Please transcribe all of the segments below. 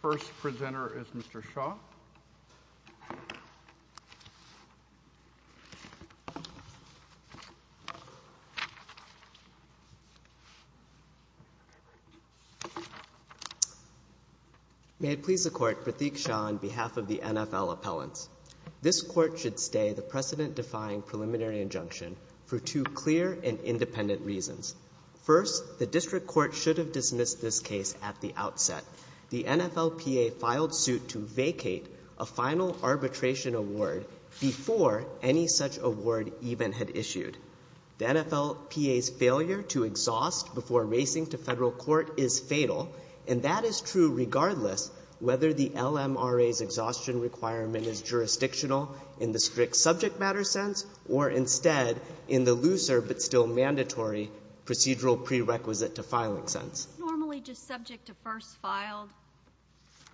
First presenter is Mr. Shaw. May it please the Court, Pratik Shaw on behalf of the NFL Appellants. This Court should stay the precedent-defying preliminary injunction for two clear and independent reasons. First, the District Court should have dismissed this case at the outset. The NFLPA filed suit to vacate a final arbitration award before any such award even had issued. The NFLPA's failure to exhaust before racing to federal court is fatal, and that is true regardless whether the LMRA's exhaustion requirement is jurisdictional in the strict subject matter sense or instead in the looser but still mandatory procedural prerequisite to filing sense. Is it normally just subject to first filed?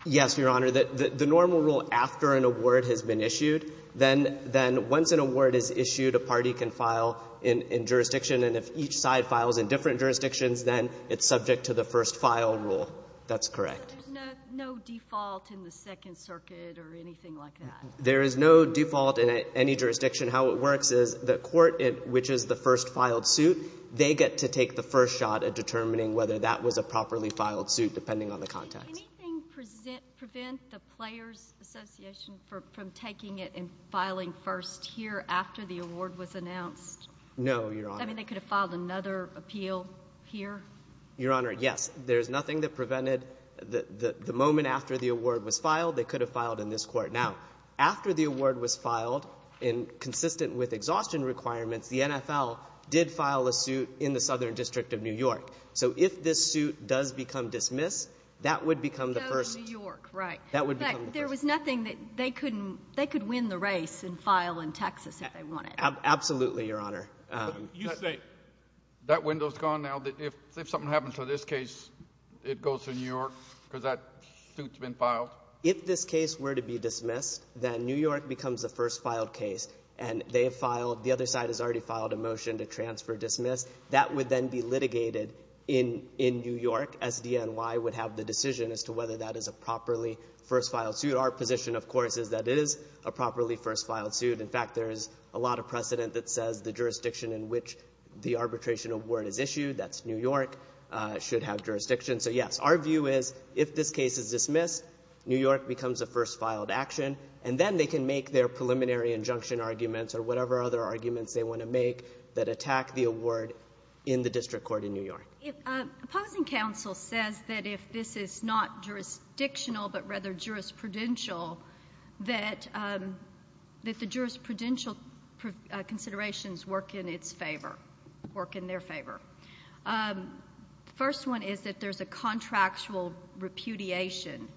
Yes, Your Honor. The normal rule after an award has been issued, then once an award is issued, a party can file in jurisdiction, and if each side files in different jurisdictions, then it's subject to the first file rule. That's correct. So there's no default in the Second Circuit or anything like that? There is no default in any jurisdiction. How it works is the Court, which is the first filed suit, they get to take the first shot at determining whether that was a properly filed suit depending on the context. Did anything prevent the Players Association from taking it and filing first here after the award was announced? No, Your Honor. I mean, they could have filed another appeal here? Your Honor, yes. There's nothing that prevented the moment after the award was filed, they could have filed in this Court. Now, after the award was filed, and consistent with exhaustion requirements, the NFL did file a suit in the Southern District of New York. So if this suit does become dismissed, that would become the first. It goes to New York, right. That would become the first. In fact, there was nothing that they could win the race and file in Texas if they wanted. Absolutely, Your Honor. You say that window's gone now. If something happens to this case, it goes to New York because that suit's been filed? Well, if this case were to be dismissed, then New York becomes the first filed case, and the other side has already filed a motion to transfer dismiss. That would then be litigated in New York. SDNY would have the decision as to whether that is a properly first filed suit. Our position, of course, is that it is a properly first filed suit. In fact, there is a lot of precedent that says the jurisdiction in which the arbitration award is issued, that's New York, should have jurisdiction. So, yes, our view is if this case is dismissed, New York becomes the first filed action, and then they can make their preliminary injunction arguments or whatever other arguments they want to make that attack the award in the district court in New York. Opposing counsel says that if this is not jurisdictional but rather jurisprudential, that the jurisprudential considerations work in its favor, work in their favor. The first one is that there's a contractual repudiation.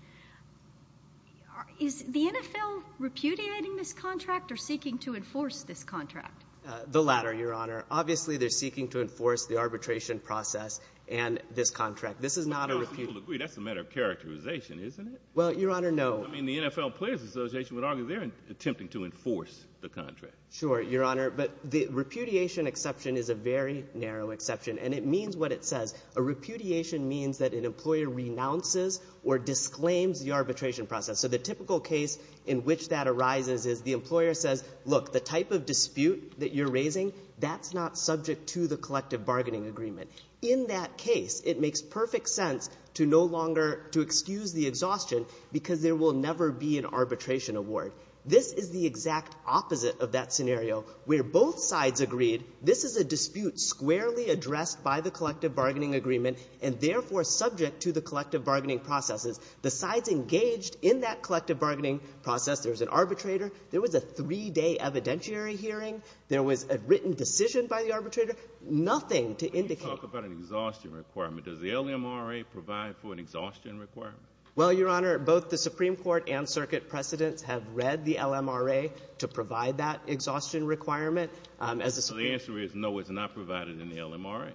Is the NFL repudiating this contract or seeking to enforce this contract? The latter, Your Honor. Obviously, they're seeking to enforce the arbitration process and this contract. This is not a repudiation. That's a matter of characterization, isn't it? Well, Your Honor, no. I mean, the NFL Players Association would argue they're attempting to enforce the contract. Sure, Your Honor. But the repudiation exception is a very narrow exception, and it means what it says. A repudiation means that an employer renounces or disclaims the arbitration process. So the typical case in which that arises is the employer says, look, the type of dispute that you're raising, that's not subject to the collective bargaining agreement. In that case, it makes perfect sense to no longer to excuse the exhaustion because there will never be an arbitration award. This is the exact opposite of that scenario where both sides agreed this is a dispute squarely addressed by the collective bargaining agreement and therefore subject to the collective bargaining processes. The sides engaged in that collective bargaining process. There was an arbitrator. There was a three-day evidentiary hearing. There was a written decision by the arbitrator. Nothing to indicate. When you talk about an exhaustion requirement, does the LMRA provide for an exhaustion requirement? Well, Your Honor, both the Supreme Court and circuit precedents have read the LMRA to provide that exhaustion requirement. So the answer is no, it's not provided in the LMRA?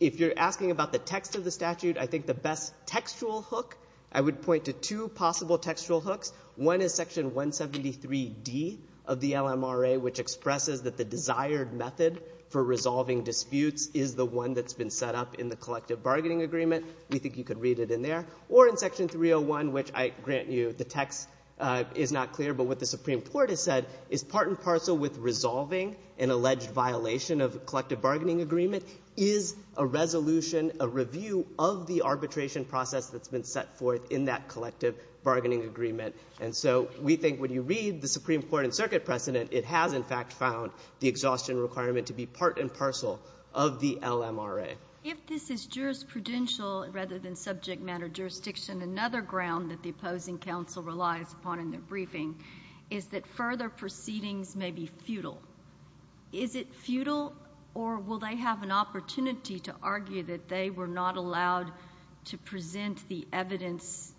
If you're asking about the text of the statute, I think the best textual hook, I would point to two possible textual hooks. One is Section 173D of the LMRA, which expresses that the desired method for resolving disputes is the one that's been set up in the collective bargaining agreement. We think you could read it in there. Or in Section 301, which I grant you the text is not clear, but what the Supreme Court has said is part and parcel with resolving an alleged violation of collective bargaining agreement is a resolution, a review of the arbitration process that's been set forth in that collective bargaining agreement. And so we think when you read the Supreme Court and circuit precedent, it has in fact found the exhaustion requirement to be part and parcel of the LMRA. If this is jurisprudential rather than subject matter jurisdiction, another ground that the opposing counsel relies upon in their briefing is that further proceedings may be futile. Is it futile, or will they have an opportunity to argue that they were not allowed to present the evidence,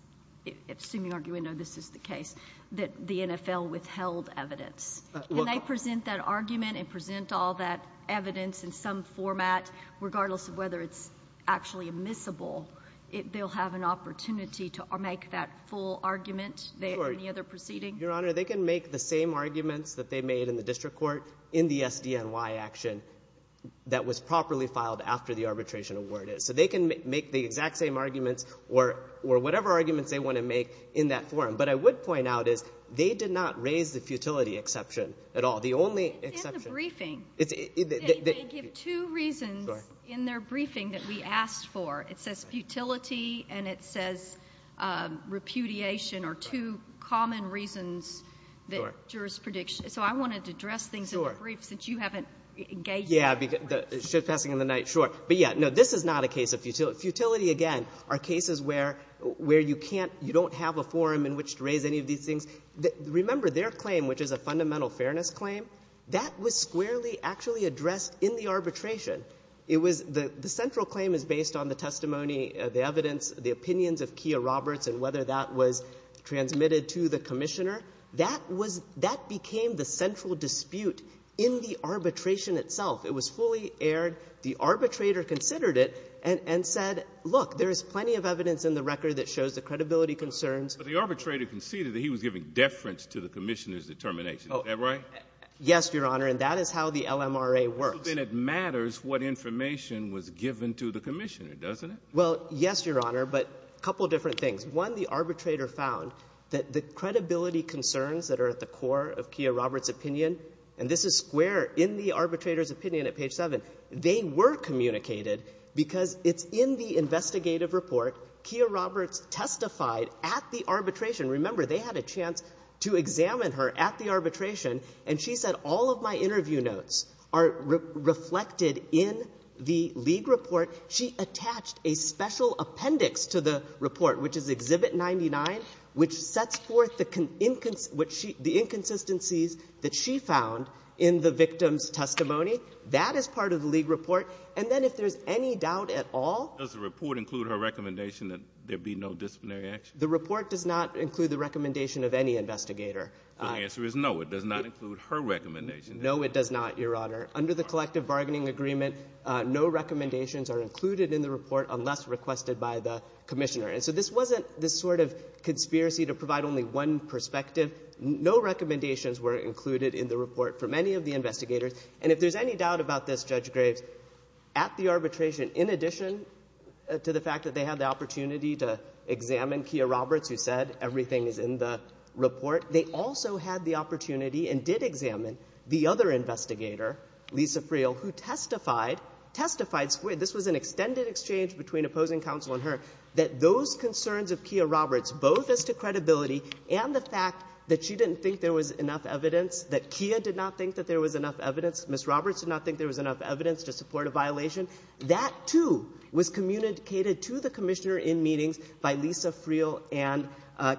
assuming argument no, this is the case, that the NFL withheld evidence? And they present that argument and present all that evidence in some format, regardless of whether it's actually admissible, they'll have an opportunity to make that full argument than any other proceeding? Your Honor, they can make the same arguments that they made in the district court in the SDNY action that was properly filed after the arbitration award is. So they can make the exact same arguments or whatever arguments they want to make in that forum. But I would point out is they did not raise the futility exception at all. The only exception. In the briefing. They give two reasons in their briefing that we asked for. It says futility and it says repudiation are two common reasons that jurors predict. So I wanted to address things in the brief since you haven't engaged in that. Sure. But yeah, no, this is not a case of futility. Futility, again, are cases where you don't have a forum in which to raise any of these things. Remember, their claim, which is a fundamental fairness claim, that was squarely actually addressed in the arbitration. The central claim is based on the testimony, the evidence, the opinions of Kia Roberts and whether that was transmitted to the commissioner. That became the central dispute in the arbitration itself. It was fully aired. The arbitrator considered it and said, look, there is plenty of evidence in the record that shows the credibility concerns. But the arbitrator conceded that he was giving deference to the commissioner's determination. Is that right? Yes, Your Honor. And that is how the LMRA works. So then it matters what information was given to the commissioner, doesn't it? Well, yes, Your Honor, but a couple different things. One, the arbitrator found that the credibility concerns that are at the core of Kia Roberts testified at the arbitration. Remember, they had a chance to examine her at the arbitration, and she said, all of my interview notes are reflected in the league report. She attached a special appendix to the report, which is Exhibit 99, which sets forth the inconsistencies that she found in the victim's testimony. That is part of the league report. And then if there is any doubt at all — Does the report include her recommendation that there be no disciplinary action? The report does not include the recommendation of any investigator. The answer is no, it does not include her recommendation. No, it does not, Your Honor. Under the collective bargaining agreement, no recommendations are included in the report unless requested by the commissioner. And so this wasn't this sort of conspiracy to provide only one perspective. No recommendations were included in the report from any of the investigators. And if there's any doubt about this, Judge Graves, at the arbitration, in addition to the fact that they had the opportunity to examine Kia Roberts, who said everything is in the report, they also had the opportunity and did examine the other investigator, Lisa Friel, who testified, testified — this was an extended exchange between opposing counsel and her — that those concerns of Kia Roberts, both as to credibility and the fact that she didn't think there was enough evidence, that Kia did not think that there was enough evidence, Ms. Roberts did not think there was enough evidence to support a violation, that, too, was communicated to the commissioner in meetings by Lisa Friel and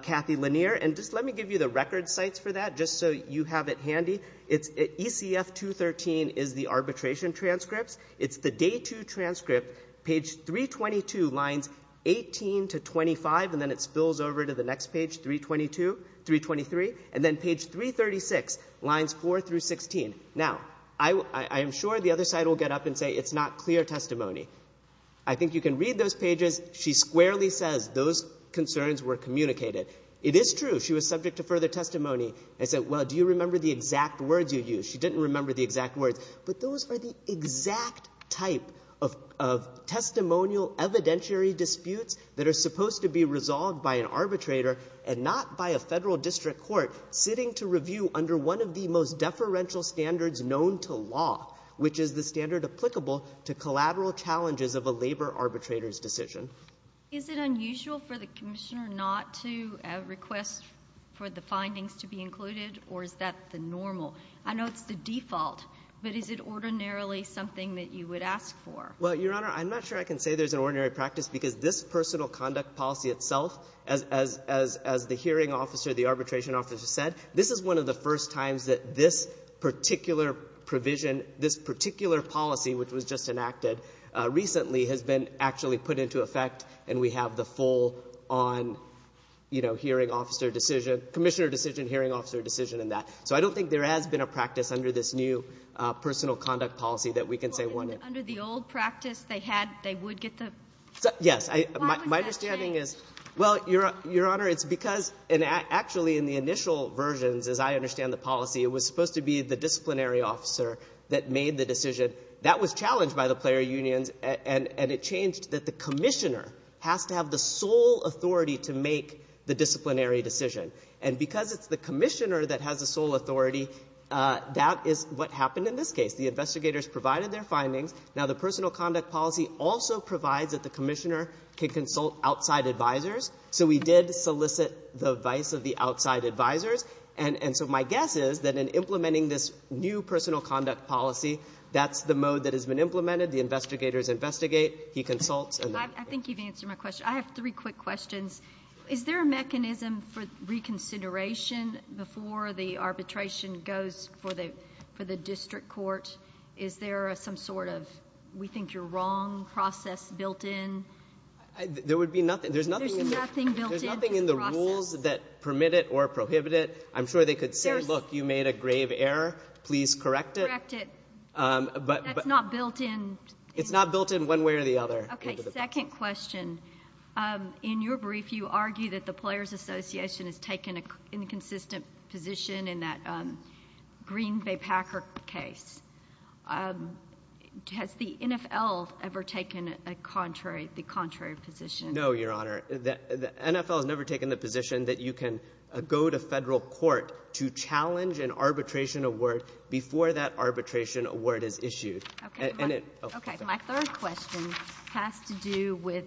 Kathy Lanier. And just let me give you the record sites for that, just so you have it handy. It's — ECF-213 is the arbitration transcripts. It's the Day 2 transcript, page 322, lines 18 to 25, and then it spills over to the Day 6, lines 4 through 16. Now, I am sure the other side will get up and say it's not clear testimony. I think you can read those pages. She squarely says those concerns were communicated. It is true she was subject to further testimony and said, well, do you remember the exact words you used? She didn't remember the exact words. But those are the exact type of testimonial evidentiary disputes that are supposed to be resolved by an arbitrator and not by a Federal district court sitting to review under one of the most deferential standards known to law, which is the standard applicable to collateral challenges of a labor arbitrator's decision. Is it unusual for the commissioner not to request for the findings to be included, or is that the normal? I know it's the default, but is it ordinarily something that you would ask for? Well, Your Honor, I'm not sure I can say there's an ordinary practice, because this personal conduct policy itself, as the hearing officer, the arbitration officer said, this is one of the first times that this particular provision, this particular policy, which was just enacted recently, has been actually put into effect, and we have the full on, you know, hearing officer decision, commissioner decision, hearing officer decision in that. So I don't think there has been a practice under this new personal conduct policy that we can say, well, no. Under the old practice, they would get the ---- Yes. My understanding is ---- Why would that change? Well, Your Honor, it's because actually in the initial versions, as I understand the policy, it was supposed to be the disciplinary officer that made the decision. That was challenged by the player unions, and it changed that the commissioner has to have the sole authority to make the disciplinary decision. And because it's the commissioner that has the sole authority, that is what happened in this case. The investigators provided their findings. Now, the personal conduct policy also provides that the commissioner can consult outside advisors. So we did solicit the advice of the outside advisors. And so my guess is that in implementing this new personal conduct policy, that's the mode that has been implemented. The investigators investigate. He consults. I think you've answered my question. I have three quick questions. Is there a mechanism for reconsideration before the arbitration goes for the district court? Is there some sort of we think you're wrong process built in? There would be nothing. There's nothing. There's nothing built in. There's nothing in the rules that permit it or prohibit it. I'm sure they could say, look, you made a grave error. Please correct it. Correct it. But that's not built in. It's not built in one way or the other. Okay. Second question. In your brief, you argue that the Players Association has taken an inconsistent position in that Green v. Packer case. Has the NFL ever taken the contrary position? No, Your Honor. The NFL has never taken the position that you can go to federal court to challenge an arbitration award before that arbitration award is issued. Okay. My third question has to do with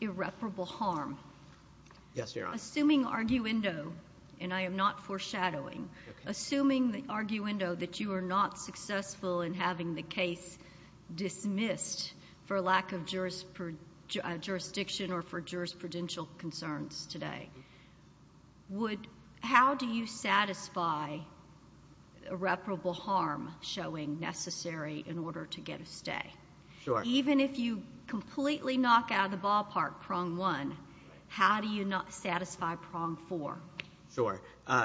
irreparable harm. Yes, Your Honor. Assuming arguendo, and I am not foreshadowing, assuming the arguendo that you are not successful in having the case dismissed for lack of jurisdiction or for jurisprudential concerns today, how do you satisfy irreparable harm showing necessary in order to get a stay? Sure. Even if you completely knock out of the ballpark prong one, how do you satisfy prong four? Sure.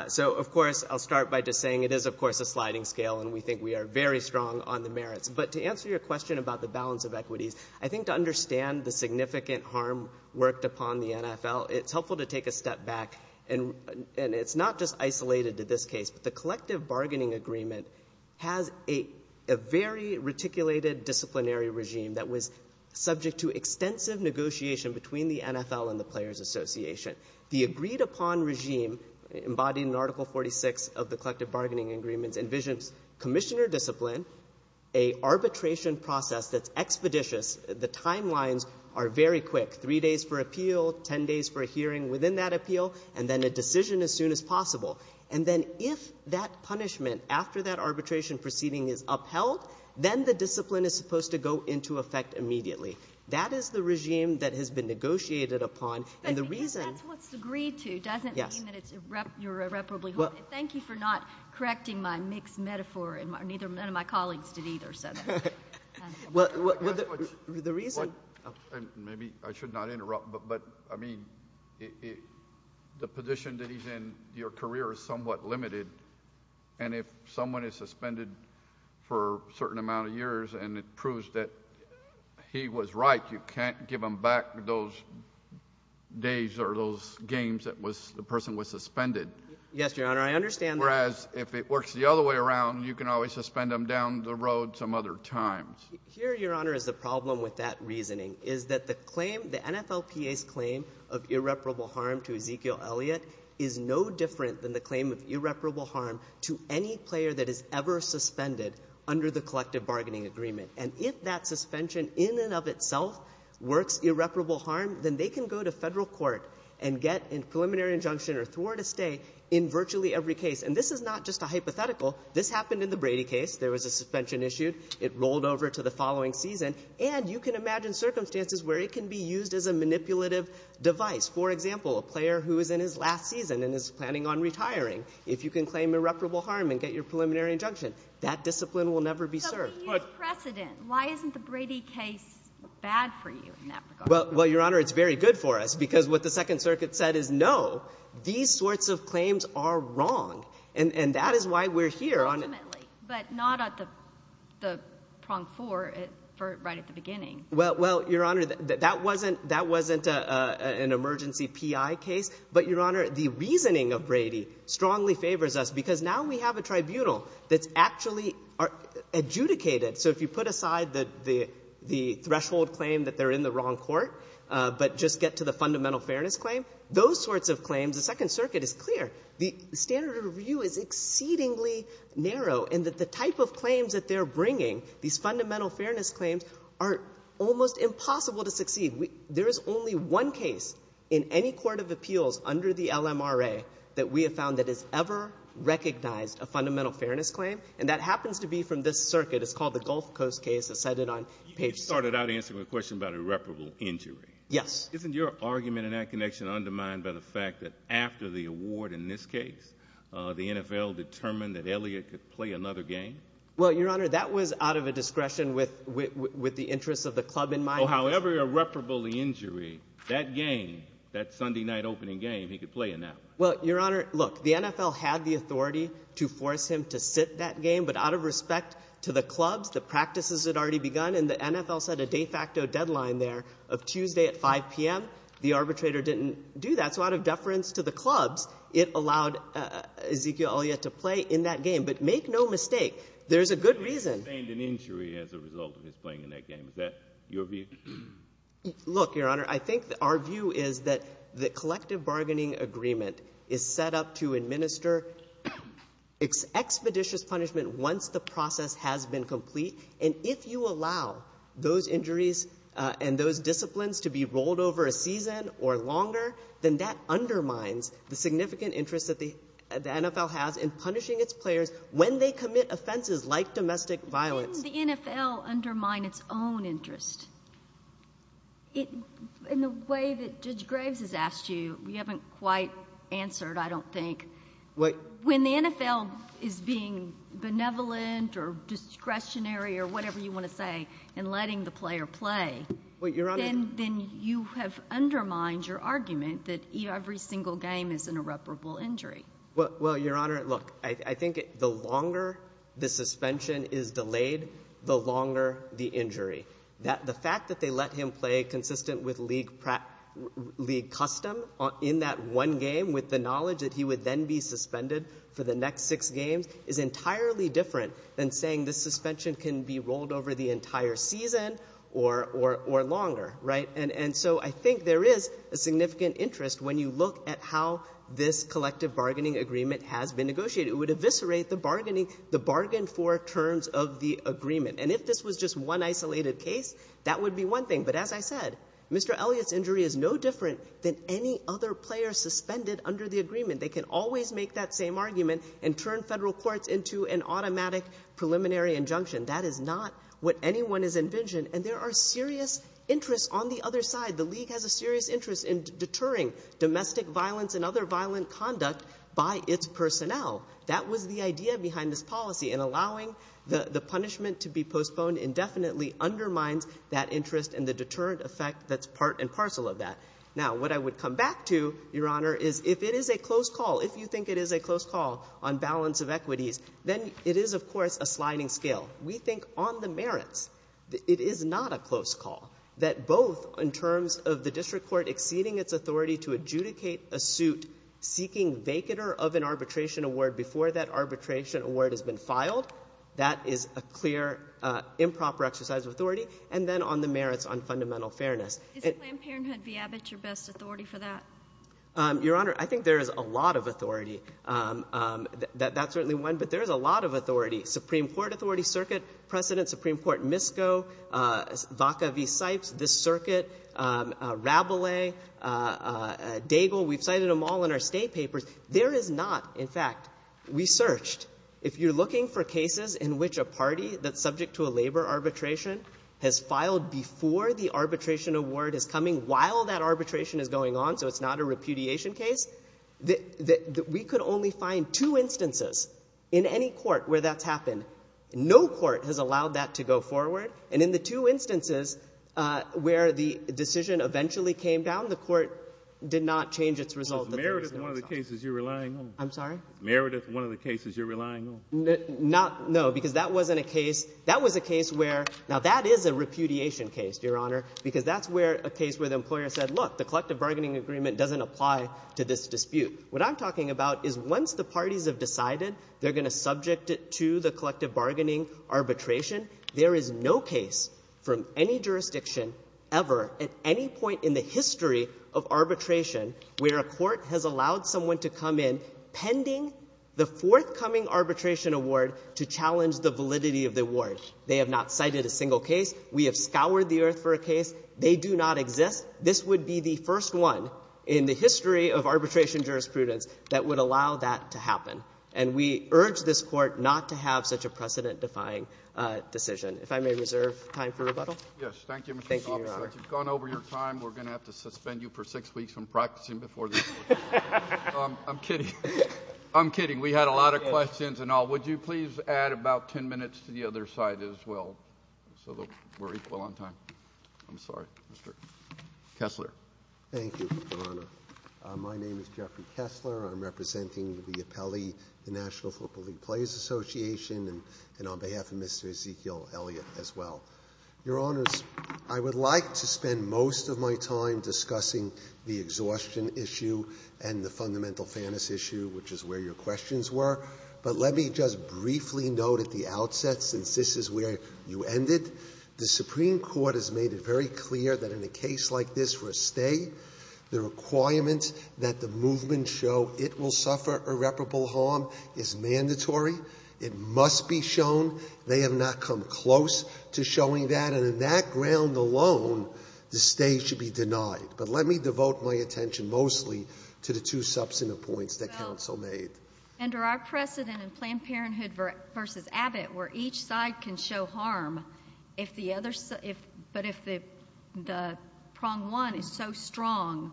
So, of course, I'll start by just saying it is, of course, a sliding scale, and we think we are very strong on the merits. But to answer your question about the balance of equities, I think to understand the significant harm worked upon the NFL, it's helpful to take a step back. And it's not just isolated to this case, but the collective bargaining agreement has a very reticulated disciplinary regime that was subject to extensive negotiation between the NFL and the Players Association. The agreed-upon regime embodied in Article 46 of the collective bargaining agreements envisions commissioner discipline, a arbitration process that's expeditious. The timelines are very quick, three days for appeal, ten days for a hearing within that appeal, and then a decision as soon as possible. And then if that punishment after that arbitration proceeding is upheld, then the discipline is supposed to go into effect immediately. That is the regime that has been negotiated upon. Because that's what's agreed to doesn't mean that you're irreparably wrong. Thank you for not correcting my mixed metaphor, and none of my colleagues did either. Maybe I should not interrupt, but the position that he's in your career is somewhat limited, and if someone is suspended for a certain amount of years and it proves that he was right, you can't give them back those days or those games that the person was suspended. Yes, Your Honor. I understand that. Whereas if it works the other way around, you can always suspend them down the road some other times. Here, Your Honor, is the problem with that reasoning, is that the claim, the NFLPA's claim of irreparable harm to Ezekiel Elliott, is no different than the claim of irreparable harm to any player that is ever suspended under the collective bargaining agreement. And if that suspension in and of itself works irreparable harm, then they can go to federal court and get a preliminary injunction or throw her to stay in virtually every case. And this is not just a hypothetical. This happened in the Brady case. There was a suspension issued. It rolled over to the following season, and you can imagine circumstances where it can be used as a manipulative device. For example, a player who is in his last season and is planning on retiring, if you can claim irreparable harm and get your preliminary injunction, that discipline will never be served. But you have precedent. Why isn't the Brady case bad for you in that regard? Well, Your Honor, it's very good for us, because what the Second Circuit said is no, these sorts of claims are wrong. And that is why we're here on it. But not at the prong four right at the beginning. Well, Your Honor, that wasn't an emergency PI case. But, Your Honor, the reasoning of Brady strongly favors us, because now we have a tribunal that's actually adjudicated. So if you put aside the threshold claim that they're in the wrong court but just get to the fundamental fairness claim, those sorts of claims, the Second Circuit is clear the standard of review is exceedingly narrow and that the type of claims that they're bringing, these fundamental fairness claims, are almost impossible to succeed. There is only one case in any court of appeals under the LMRA that we have found that has ever recognized a fundamental fairness claim, and that happens to be from this circuit. It's called the Gulf Coast case. It's cited on page 6. You started out answering the question about irreparable injury. Yes. Isn't your argument in that connection undermined by the fact that after the award, in this case, the NFL determined that Elliott could play another game? Well, Your Honor, that was out of a discretion with the interests of the club in mind. However irreparable the injury, that game, that Sunday night opening game, he could play in that one. Well, Your Honor, look, the NFL had the authority to force him to sit that game, but out of respect to the clubs, the practices had already begun, and the NFL set a de facto deadline there of Tuesday at 5 p.m. The arbitrator didn't do that. So out of deference to the clubs, it allowed Ezekiel Elliott to play in that game. But make no mistake, there's a good reason. He sustained an injury as a result of his playing in that game. Is that your view? Look, Your Honor, I think our view is that the collective bargaining agreement is set up to administer expeditious punishment once the process has been complete, and if you allow those injuries and those disciplines to be rolled over a season or longer, then that undermines the significant interest that the NFL has in punishing its players when they commit offenses like domestic violence. How can the NFL undermine its own interest? In the way that Judge Graves has asked you, you haven't quite answered, I don't think. When the NFL is being benevolent or discretionary or whatever you want to say and letting the player play, then you have undermined your argument that every single game is an irreparable injury. Well, Your Honor, look, I think the longer the suspension is delayed, the longer the injury. The fact that they let him play consistent with league custom in that one game with the knowledge that he would then be suspended for the next six games is entirely different than saying the suspension can be rolled over the entire season or longer. And so I think there is a significant interest when you look at how this collective bargaining agreement has been negotiated. It would eviscerate the bargaining, the bargain for terms of the agreement. And if this was just one isolated case, that would be one thing. But as I said, Mr. Elliott's injury is no different than any other player suspended under the agreement. They can always make that same argument and turn federal courts into an automatic preliminary injunction. That is not what anyone has envisioned. And there are serious interests on the other side. The league has a serious interest in deterring domestic violence and other violent conduct by its personnel. That was the idea behind this policy. And allowing the punishment to be postponed indefinitely undermines that interest and the deterrent effect that's part and parcel of that. Now, what I would come back to, Your Honor, is if it is a close call, if you think it is a close call on balance of equities, then it is, of course, a sliding scale. We think on the merits. It is not a close call. That both in terms of the district court exceeding its authority to adjudicate a suit seeking vacater of an arbitration award before that arbitration award has been filed, that is a clear improper exercise of authority. And then on the merits on fundamental fairness. Is Planned Parenthood v. Abbott your best authority for that? Your Honor, I think there is a lot of authority. That's certainly one. But there is a lot of authority. Supreme Court Authority Circuit precedent, Supreme Court Misko, Vaca v. Sipes, this circuit, Rabelais, Daigle, we've cited them all in our state papers. There is not, in fact, we searched. If you're looking for cases in which a party that's subject to a labor arbitration has filed before the arbitration award is coming, while that arbitration is going on, so it's not a repudiation case, we could only find two instances in any court where that's happened. No court has allowed that to go forward. And in the two instances where the decision eventually came down, the court did not change its result. It's merited in one of the cases you're relying on. I'm sorry? Merited in one of the cases you're relying on. No, because that wasn't a case. That was a case where, now that is a repudiation case, Your Honor, because that's where a case where the employer said, look, the collective bargaining agreement doesn't apply to this dispute. What I'm talking about is once the parties have decided they're going to subject it to the collective bargaining arbitration, there is no case from any jurisdiction ever, at any point in the history of arbitration, where a court has allowed someone to come in pending the forthcoming arbitration award to challenge the validity of the award. They have not cited a single case. We have scoured the earth for a case. They do not exist. This would be the first one in the history of arbitration jurisprudence that would allow that to happen. And we urge this Court not to have such a precedent-defying decision. If I may reserve time for rebuttal. Yes. Thank you, Mr. Sopcich. Thank you, Your Honor. You've gone over your time. We're going to have to suspend you for six weeks from practicing before this. I'm kidding. I'm kidding. We had a lot of questions and all. Would you please add about ten minutes to the other side as well, so that we're equal on time? I'm sorry, Mr. Kessler. Thank you, Your Honor. My name is Jeffrey Kessler. I'm representing the appellee, the National Football League Players Association, and on behalf of Mr. Ezekiel Elliott as well. Your Honors, I would like to spend most of my time discussing the exhaustion issue and the fundamental fairness issue, which is where your questions were. But let me just briefly note at the outset, since this is where you ended, the Supreme Court has made it very clear that in a case like this where a stay, the requirements that the movement show it will suffer irreparable harm is mandatory. It must be shown. They have not come close to showing that. And on that ground alone, the stay should be denied. But let me devote my attention mostly to the two substantive points that counsel made. Under our precedent in Planned Parenthood v. Abbott, where each side can show harm, but if the prong one is so strong,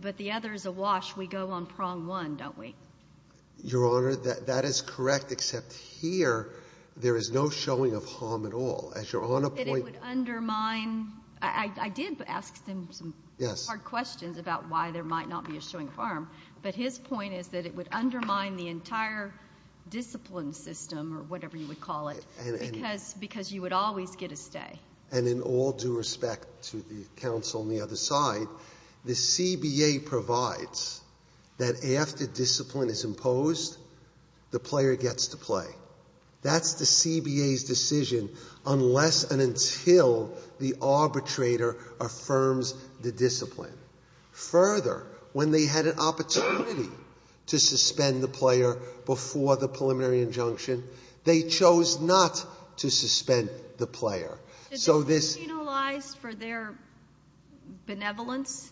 but the other is awash, we go on prong one, don't we? Your Honor, that is correct, except here there is no showing of harm at all. As Your Honor pointed out. But it would undermine. I did ask him some hard questions about why there might not be a showing of harm. But his point is that it would undermine the entire discipline system, or whatever you would call it, because you would always get a stay. And in all due respect to the counsel on the other side, the CBA provides that after discipline is imposed, the player gets to play. That's the CBA's decision unless and until the arbitrator affirms the discipline. Further, when they had an opportunity to suspend the player before the preliminary injunction, they chose not to suspend the player. Should they be penalized for their benevolence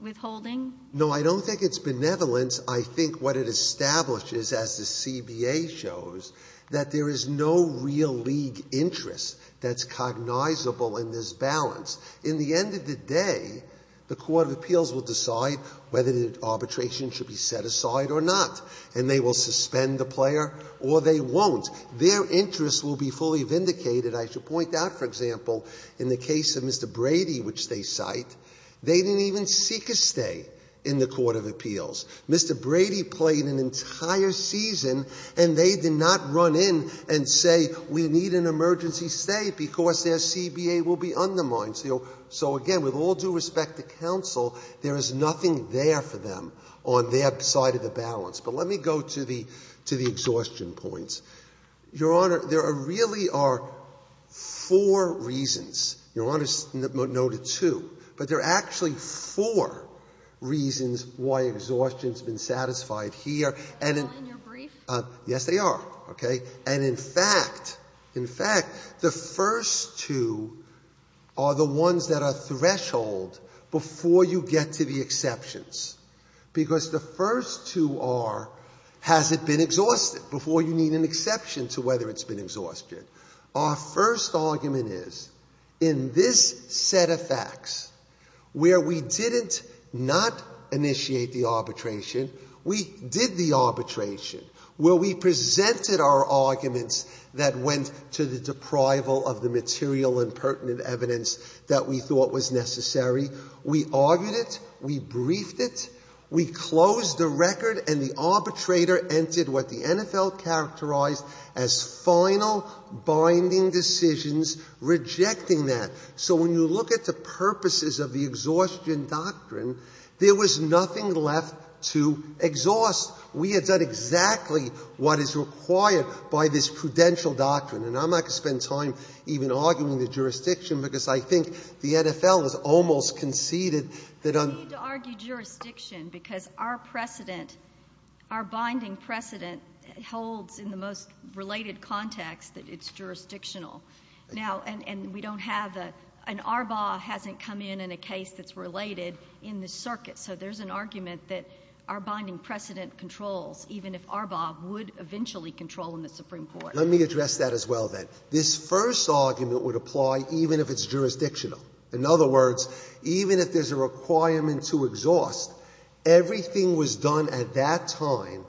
withholding? No, I don't think it's benevolence. I think what it establishes, as the CBA shows, that there is no real league interest that's cognizable in this balance. In the end of the day, the court of appeals will decide whether the arbitration should be set aside or not, and they will suspend the player or they won't. Their interest will be fully vindicated. I should point out, for example, in the case of Mr. Brady, which they cite, they didn't even seek a stay in the court of appeals. Mr. Brady played an entire season, and they did not run in and say, we need an emergency stay because their CBA will be undermined. So, again, with all due respect to counsel, there is nothing there for them on their side of the balance. But let me go to the exhaustion points. Your Honor, there really are four reasons. Your Honor noted two. But there are actually four reasons why exhaustion has been satisfied here, and in fact the first two are the ones that are threshold before you get to the exceptions, because the first two are, has it been exhausted, before you need an exception to whether it's been exhausted. Our first argument is, in this set of facts, where we didn't not initiate the arbitration, we did the arbitration, where we presented our arguments that went to the deprival of the material and pertinent evidence that we thought was necessary. We argued it, we briefed it, we closed the record, and the arbitrator entered what the NFL characterized as final binding decisions, rejecting that. So when you look at the purposes of the exhaustion doctrine, there was nothing left to exhaust. We had done exactly what is required by this prudential doctrine. And I'm not going to spend time even arguing the jurisdiction, because I think the NFL has almost conceded that on the basis of the final binding decision, there was nothing left to exhaust. We need to argue jurisdiction, because our precedent, our binding precedent holds in the most related context that it's jurisdictional. Now, and we don't have a, an ARBA hasn't come in in a case that's related in the circuit. So there's an argument that our binding precedent controls, even if ARBA would eventually control in the Supreme Court. Let me address that as well, then. This first argument would apply even if it's jurisdictional. In other words, even if there's a requirement to exhaust, everything was done at that time,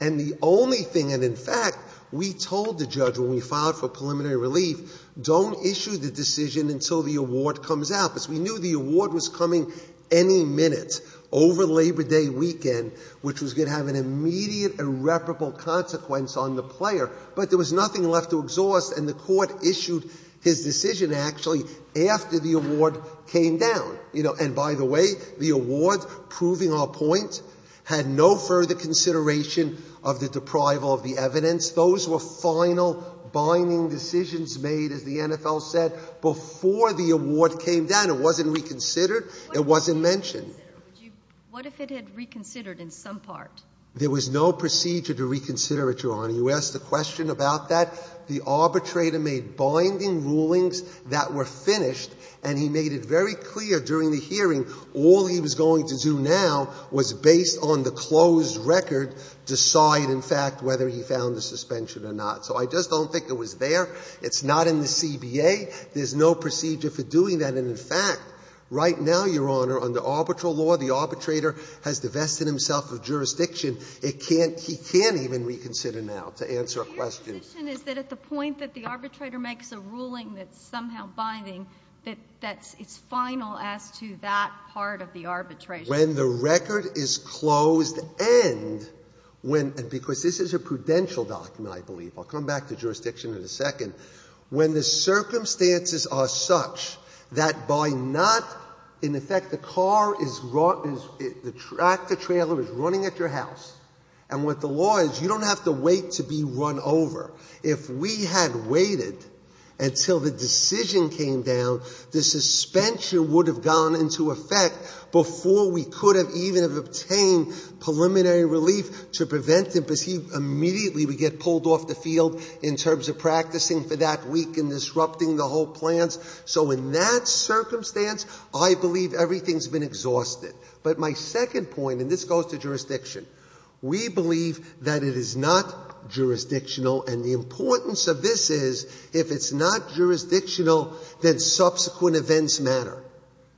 and the only thing, and in fact, we told the judge when we filed for preliminary relief, don't issue the decision until the award comes out, because we knew the award was coming any minute over Labor Day weekend, which was going to have an immediate irreparable consequence on the player. But there was nothing left to exhaust, and the Court issued his decision, actually, after the award came down. You know, and by the way, the award, proving our point, had no further consideration of the deprival of the evidence. Those were final binding decisions made, as the NFL said, before the award came down. It wasn't reconsidered. It wasn't mentioned. What if it had reconsidered in some part? There was no procedure to reconsider it, Your Honor. You asked a question about that. The arbitrator made binding rulings that were finished, and he made it very clear during the hearing all he was going to do now was, based on the closed record, decide, in fact, whether he found the suspension or not. So I just don't think it was there. It's not in the CBA. There's no procedure for doing that. And in fact, right now, Your Honor, under arbitral law, the arbitrator has divested himself of jurisdiction. It can't he can't even reconsider now to answer a question. The point that the arbitrator makes a ruling that's somehow binding, that it's final as to that part of the arbitration. When the record is closed and when, because this is a prudential document, I believe. I'll come back to jurisdiction in a second. When the circumstances are such that by not, in effect, the car is, the tractor trailer is running at your house, and what the law is, you don't have to wait to be run over. If we had waited until the decision came down, the suspension would have gone into effect before we could have even have obtained preliminary relief to prevent him because he immediately would get pulled off the field in terms of practicing for that week and disrupting the whole plans. So in that circumstance, I believe everything's been exhausted. But my second point, and this goes to jurisdiction, we believe that it is not jurisdictional and the importance of this is if it's not jurisdictional, then subsequent events matter.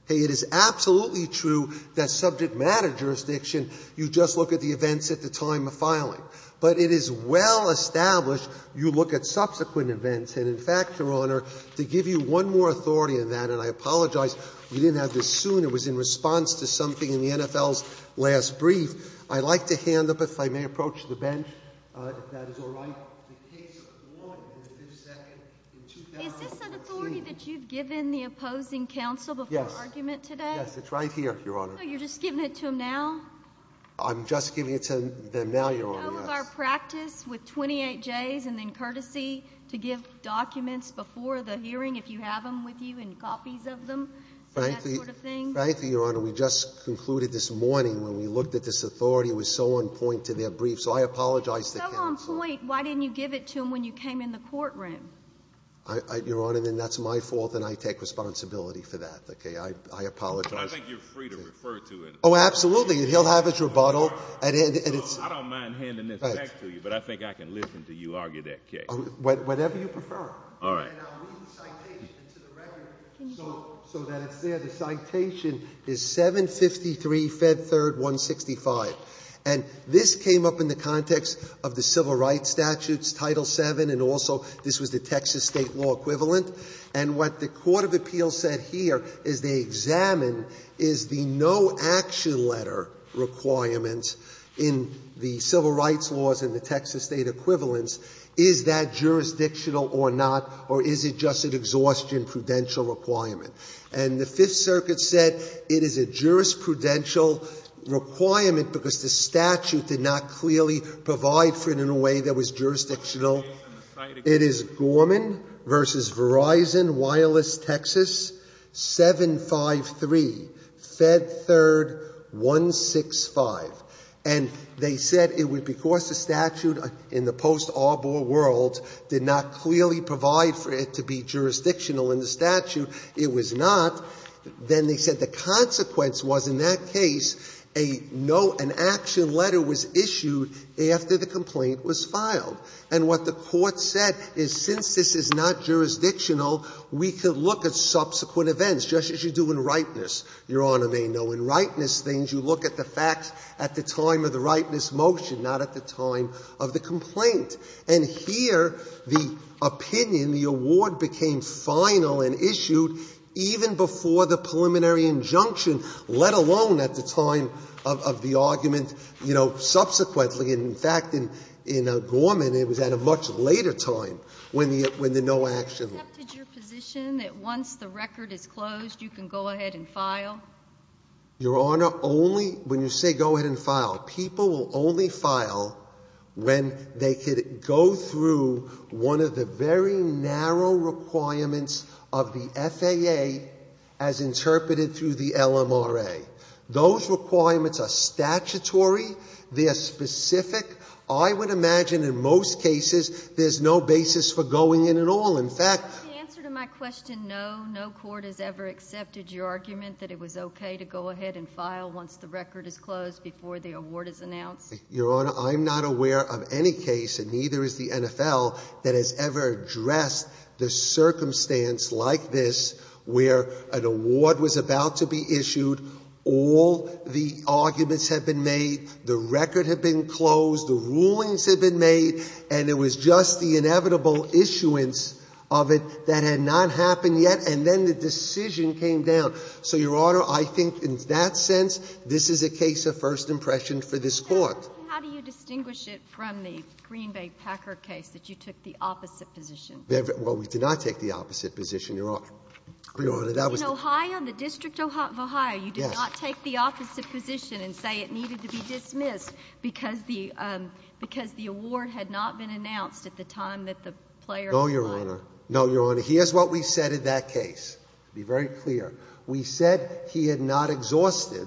It is absolutely true that subject matter jurisdiction, you just look at the events at the time of filing. But it is well established, you look at subsequent events. And in fact, Your Honor, to give you one more authority on that, and I apologize, we didn't have this soon. It was in response to something in the NFL's last brief. I'd like to hand up, if I may approach the bench, if that is all right, the case of Ward and his second in 2014. Is this an authority that you've given the opposing counsel before argument today? Yes. It's right here, Your Honor. So you're just giving it to him now? I'm just giving it to them now, Your Honor, yes. Do you know of our practice with 28Js and then courtesy to give documents before the hearing if you have them with you and copies of them and that sort of thing? Frankly, Your Honor, we just concluded this morning when we looked at this authority and it was so on point to their brief. So I apologize to counsel. It's so on point, why didn't you give it to him when you came in the courtroom? Your Honor, then that's my fault and I take responsibility for that, okay? I apologize. I think you're free to refer to it. Oh, absolutely. He'll have his rebuttal. I don't mind handing this back to you, but I think I can listen to you argue that case. Whatever you prefer. All right. And I'll read the citation to the record so that it's there. The citation is 753 Fed Third 165. And this came up in the context of the civil rights statutes, Title VII, and also this was the Texas State law equivalent. And what the court of appeals said here is they examined is the no action letter requirement in the civil rights laws in the Texas State equivalents, is that jurisdictional or not, or is it just an exhaustion prudential requirement? And the Fifth Circuit said it is a jurisprudential requirement because the statute did not clearly provide for it in a way that was jurisdictional. It is Gorman v. Verizon, Wireless, Texas, 753 Fed Third 165. And they said it was because the statute in the post-Arbor world did not clearly provide for it to be jurisdictional in the statute. It was not. Then they said the consequence was in that case a no an action letter was issued after the complaint was filed. And what the court said is since this is not jurisdictional, we could look at subsequent events, just as you do in ripeness, Your Honor may know. In ripeness things, you look at the facts at the time of the ripeness motion, not at the time of the complaint. And here the opinion, the award became final and issued even before the preliminary injunction, let alone at the time of the argument, you know, subsequently. In fact, in Gorman it was at a much later time when the no action letter was issued. Did you accept your position that once the record is closed you can go ahead and file? Your Honor, only when you say go ahead and file. People will only file when they could go through one of the very narrow requirements of the FAA as interpreted through the LMRA. Those requirements are statutory. They are specific. I would imagine in most cases there's no basis for going in at all. In fact — The answer to my question, no, no court has ever accepted your argument that it was okay to go ahead and file once the record is closed before the award is announced? Your Honor, I'm not aware of any case, and neither is the NFL, that has ever addressed the circumstance like this where an award was about to be issued, all the arguments have been made, the record had been closed, the rulings had been made, and it was just the inevitable issuance of it that had not happened yet, and then the decision came down. So, Your Honor, I think in that sense this is a case of first impression for this Court. How do you distinguish it from the Green Bay Packer case that you took the opposite position? Well, we did not take the opposite position, Your Honor. Your Honor, that was the — In Ohio, in the District of Ohio — Yes. We did not take the opposite position and say it needed to be dismissed because the award had not been announced at the time that the player was signed. No, Your Honor. No, Your Honor. Here's what we said in that case, to be very clear. We said he had not exhausted,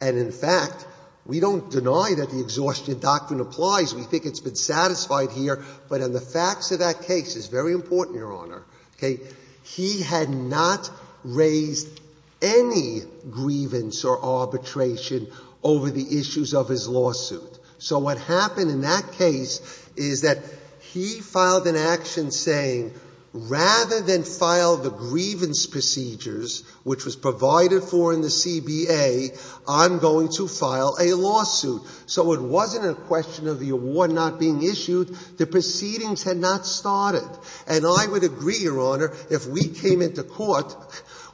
and in fact, we don't deny that the exhaustion doctrine applies. We think it's been satisfied here, but in the facts of that case, it's very important, Your Honor. Okay? He had not raised any grievance or arbitration over the issues of his lawsuit. So what happened in that case is that he filed an action saying, rather than file the grievance procedures, which was provided for in the CBA, I'm going to file a lawsuit. So it wasn't a question of the award not being issued. The proceedings had not started. And I would agree, Your Honor, if we came into court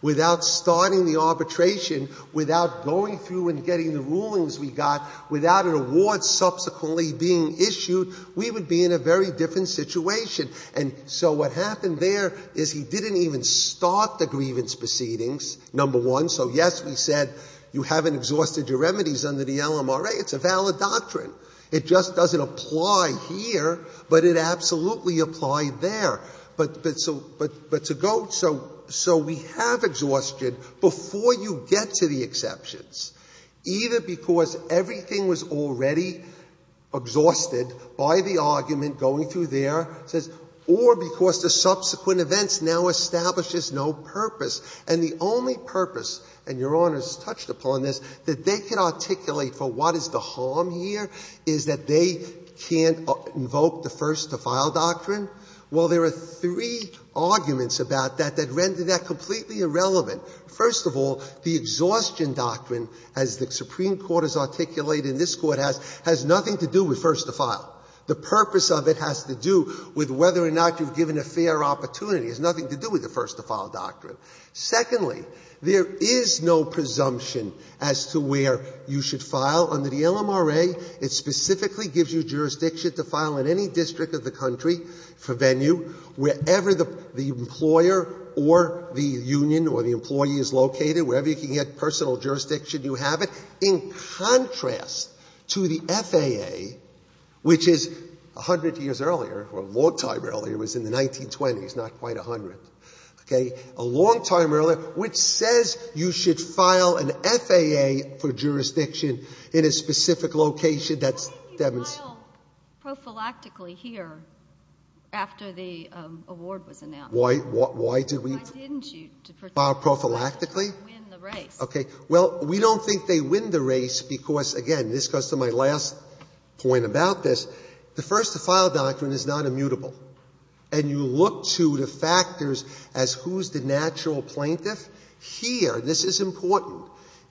without starting the arbitration, without going through and getting the rulings we got, without an award subsequently being issued, we would be in a very different situation. And so what happened there is he didn't even start the grievance proceedings, number one. So, yes, we said you haven't exhausted your remedies under the LMRA. It's a valid doctrine. It just doesn't apply here, but it absolutely applied there. But to go so we have exhaustion before you get to the exceptions, either because everything was already exhausted by the argument going through there, or because the subsequent events now establishes no purpose. And the only purpose, and Your Honor has touched upon this, that they can articulate for what is the harm here is that they can't invoke the first-to-file doctrine. Well, there are three arguments about that that render that completely irrelevant. First of all, the exhaustion doctrine, as the Supreme Court has articulated and this Court has, has nothing to do with first-to-file. The purpose of it has to do with whether or not you've given a fair opportunity. It has nothing to do with the first-to-file doctrine. Secondly, there is no presumption as to where you should file. Under the LMRA, it specifically gives you jurisdiction to file in any district of the country for venue, wherever the employer or the union or the employee is located, wherever you can get personal jurisdiction, you have it. In contrast to the FAA, which is 100 years earlier, or a long time earlier, was in the 1920s, not quite 100, okay? A long time earlier, which says you should file an FAA for jurisdiction in a specific location that's demonstrated. Why didn't you file prophylactically here after the award was announced? Why did we file prophylactically? To win the race. Okay. Well, we don't think they win the race because, again, this goes to my last point about this. The first-to-file doctrine is not immutable. And you look to the factors as who's the natural plaintiff. Here, this is important,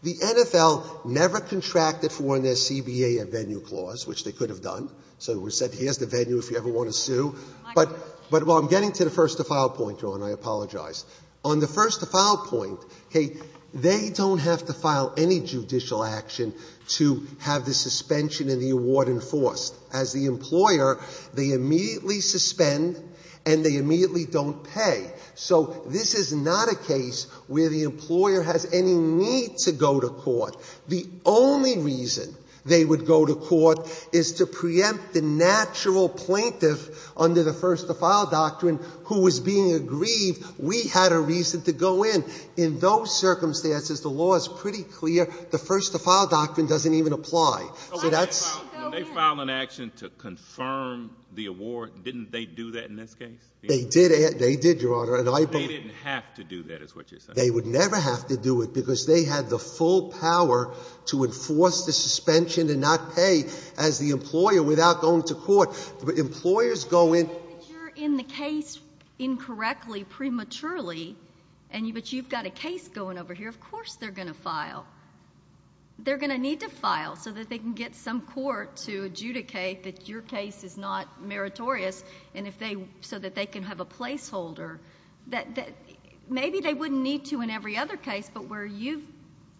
the NFL never contracted for in their CBA a venue clause, which they could have done. So we said here's the venue if you ever want to sue. But while I'm getting to the first-to-file point, Your Honor, I apologize, on the first-to-file point, okay, they don't have to file any judicial action to have the suspension in the award enforced. As the employer, they immediately suspend and they immediately don't pay. So this is not a case where the employer has any need to go to court. The only reason they would go to court is to preempt the natural plaintiff under the first-to-file doctrine who was being aggrieved. We had a reason to go in. In those circumstances, the law is pretty clear. The first-to-file doctrine doesn't even apply. They filed an action to confirm the award. Didn't they do that in this case? They did, Your Honor. They didn't have to do that is what you're saying. They would never have to do it because they had the full power to enforce the suspension and not pay as the employer without going to court. Employers go in. You're in the case incorrectly prematurely, but you've got a case going over here. Of course they're going to file. They're going to need to file so that they can get some court to adjudicate that your case is not meritorious so that they can have a placeholder. Maybe they wouldn't need to in every other case but where you've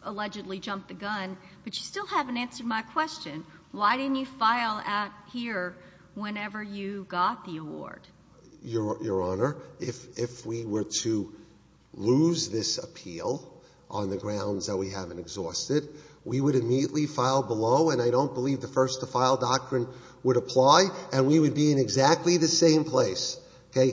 allegedly jumped the gun, but you still haven't answered my question. Why didn't you file out here whenever you got the award? Your Honor, if we were to lose this appeal on the grounds that we haven't exhausted, we would immediately file below, and I don't believe the first-to-file doctrine would apply, and we would be in exactly the same place, okay,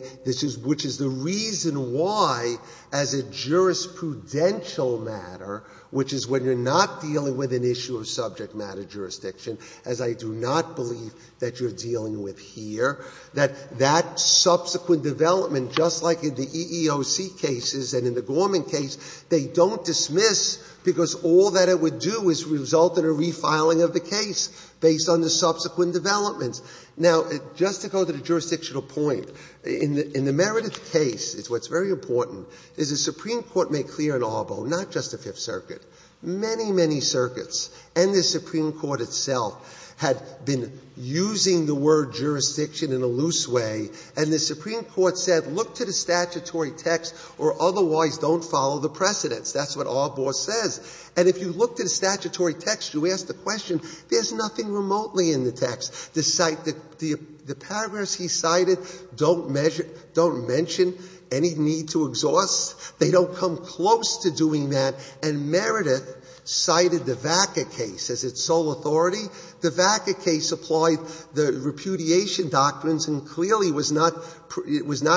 which is the reason why as a jurisprudential matter, which is when you're not dealing with an issue of subject matter jurisdiction, as I do not believe that you're dealing with here, that that subsequent development, just like in the EEOC cases and in the Gorman case, they don't dismiss because all that it would do is result in a refiling of the case based on the subsequent developments. Now, just to go to the jurisdictional point, in the meritorious case, it's what's very important, is the Supreme Court made clear in Arbo, not just the Fifth Circuit, many, many circuits, and the Supreme Court itself had been using the word jurisdiction in a loose way, and the Supreme Court said, look to the statutory text or otherwise don't follow the precedents. That's what Arbo says. And if you look to the statutory text, you ask the question, there's nothing remotely in the text. The paragraphs he cited don't mention any need to exhaust. They don't come close to doing that. And Meredith cited the Vacca case as its sole authority. The Vacca case applied the repudiation doctrines and clearly was not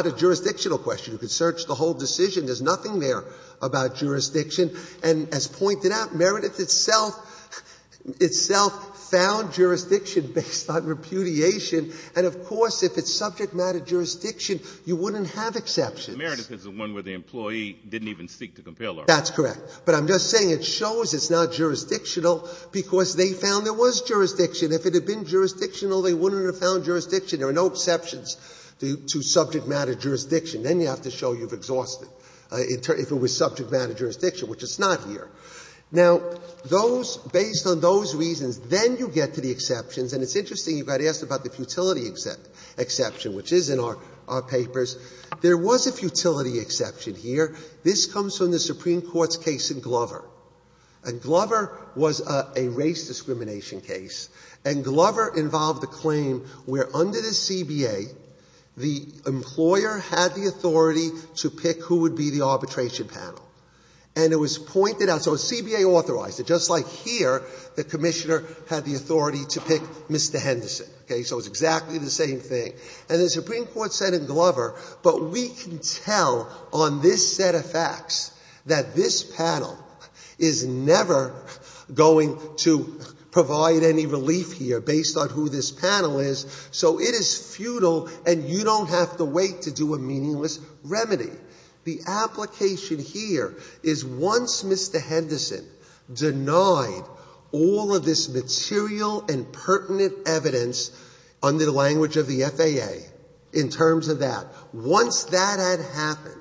a jurisdictional question. You could search the whole decision. There's nothing there about jurisdiction. And as pointed out, Meredith itself found jurisdiction based on repudiation. And of course, if it's subject matter jurisdiction, you wouldn't have exceptions. But Meredith is the one where the employee didn't even seek to compel Arbo. That's correct. But I'm just saying it shows it's not jurisdictional because they found there was jurisdiction. If it had been jurisdictional, they wouldn't have found jurisdiction. There are no exceptions to subject matter jurisdiction. Then you have to show you've exhausted, if it was subject matter jurisdiction, which it's not here. Now, those — based on those reasons, then you get to the exceptions, and it's interesting you got asked about the futility exception, which is in our papers. There was a futility exception here. This comes from the Supreme Court's case in Glover. And Glover was a race discrimination case. And Glover involved a claim where under the CBA, the employer had the authority to pick who would be the arbitration panel. And it was pointed out. So CBA authorized it. Just like here, the commissioner had the authority to pick Mr. Henderson. Okay? So it's exactly the same thing. And the Supreme Court said in Glover, but we can tell on this set of facts that this panel is never going to provide any relief here based on who this panel is. So it is futile, and you don't have to wait to do a meaningless remedy. The application here is once Mr. Henderson denied all of this material and pertinent evidence under the language of the FAA in terms of that, once that had happened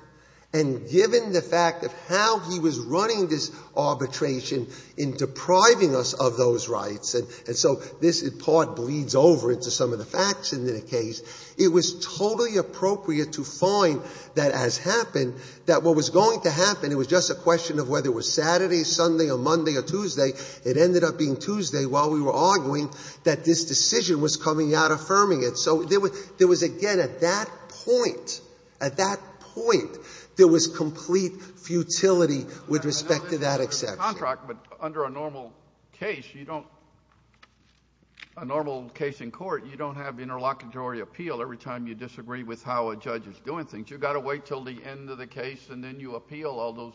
and given the fact of how he was running this arbitration in depriving us of those rights, and so this in part bleeds over into some of the facts in the case, it was totally appropriate to find that as happened, that what was going to happen, it was just a question of whether it was Saturday, Sunday, or Monday, or Tuesday, it ended up being Tuesday while we were arguing that this decision was coming out affirming it. So there was, again, at that point, at that point, there was complete futility with respect to that exception. But under a normal case, you don't, a normal case in court, you don't have interlocutory appeal every time you disagree with how a judge is doing things. You've got to wait until the end of the case and then you appeal all those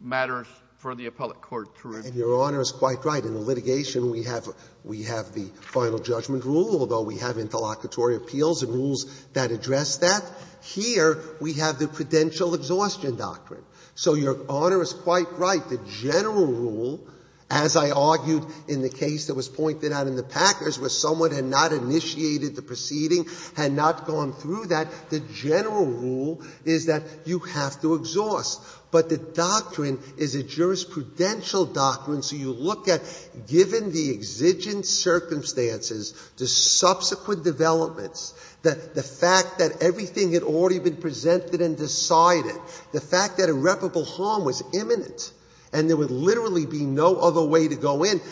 matters for the appellate court to review. And Your Honor is quite right. In the litigation, we have the final judgment rule, although we have interlocutory appeals and rules that address that. Here we have the prudential exhaustion doctrine. So Your Honor is quite right. The general rule, as I argued in the case that was pointed out in the Packers where someone had not initiated the proceeding, had not gone through that, the general rule is that you have to exhaust. But the doctrine is a jurisprudential doctrine, so you look at, given the exigent circumstances, the subsequent developments, the fact that everything had already been presented and decided, the fact that irreparable harm was imminent and there would literally be no other way to go in,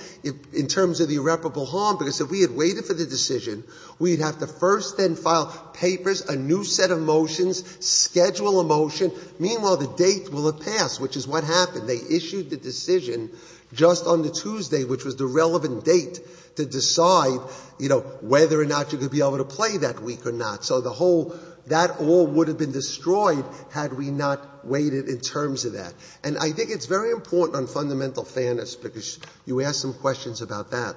in terms of the irreparable harm, because if we had waited for the decision, we'd have to first then file papers, a new set of motions, schedule a motion. Meanwhile, the date will have passed, which is what happened. They issued the decision just on the Tuesday, which was the relevant date to decide, you know, whether or not you could be able to play that week or not. So the whole that all would have been destroyed had we not waited in terms of that. And I think it's very important on fundamental fairness, because you asked some questions about that.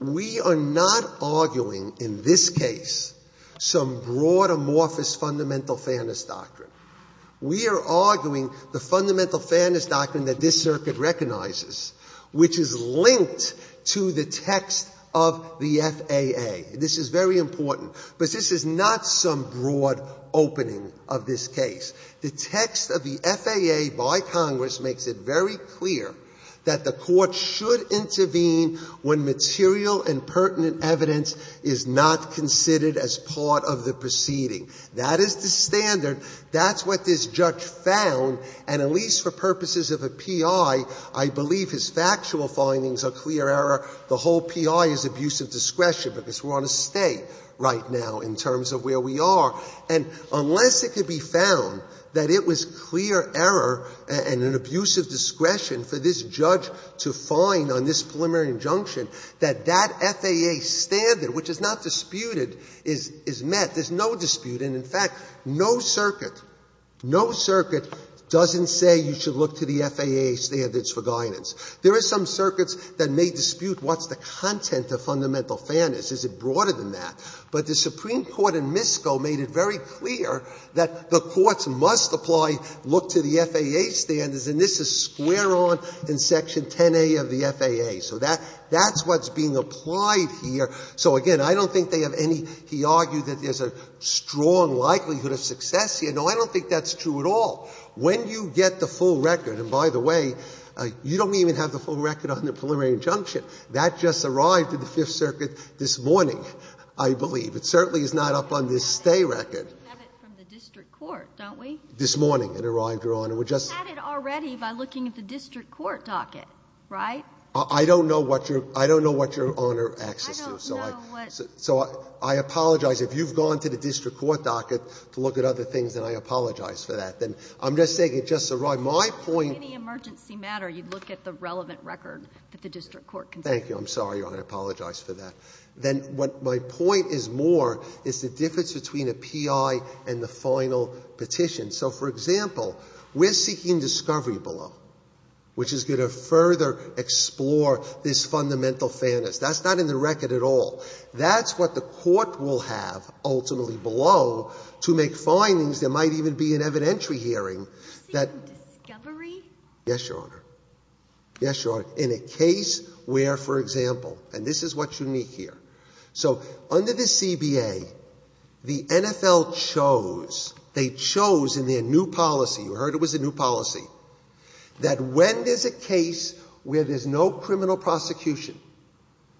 We are not arguing in this case some broad, amorphous fundamental fairness doctrine. We are arguing the fundamental fairness doctrine that this Circuit recognizes, which is linked to the text of the FAA. This is very important. But this is not some broad opening of this case. The text of the FAA by Congress makes it very clear that the Court should intervene when material and pertinent evidence is not considered as part of the proceeding. That is the standard. That's what this judge found. And at least for purposes of a P.I., I believe his factual findings are clear error. The whole P.I. is abuse of discretion, because we're on a stay right now in terms of where we are. And unless it could be found that it was clear error and an abuse of discretion for this judge to find on this preliminary injunction that that FAA standard, which is not disputed, is met, there's no dispute. And, in fact, no circuit, no circuit doesn't say you should look to the FAA standards for guidance. There are some circuits that may dispute what's the content of fundamental fairness. Is it broader than that? But the Supreme Court in Misko made it very clear that the courts must apply, look to the FAA standards, and this is square on in section 10a of the FAA. So that's what's being applied here. So, again, I don't think they have any he argued that there's a strong likelihood of success here. No, I don't think that's true at all. When you get the full record, and by the way, you don't even have the full record on the preliminary injunction. That just arrived in the Fifth Circuit this morning. I believe. It certainly is not up on this stay record. We have it from the district court, don't we? This morning it arrived, Your Honor. We just had it already by looking at the district court docket, right? I don't know what your Honor acts as to. I don't know what. So I apologize. If you've gone to the district court docket to look at other things, then I apologize for that. Then I'm just saying it just arrived. My point. For any emergency matter, you'd look at the relevant record that the district court can see. Thank you. I'm sorry, Your Honor. I apologize for that. Then what my point is more is the difference between a P.I. and the final petition. So, for example, we're seeking discovery below, which is going to further explore this fundamental fairness. That's not in the record at all. That's what the court will have ultimately below to make findings. There might even be an evidentiary hearing that. You're seeking discovery? Yes, Your Honor. Yes, Your Honor, in a case where, for example, and this is what's unique here. So under the CBA, the NFL chose, they chose in their new policy, you heard it was a new policy, that when there's a case where there's no criminal prosecution,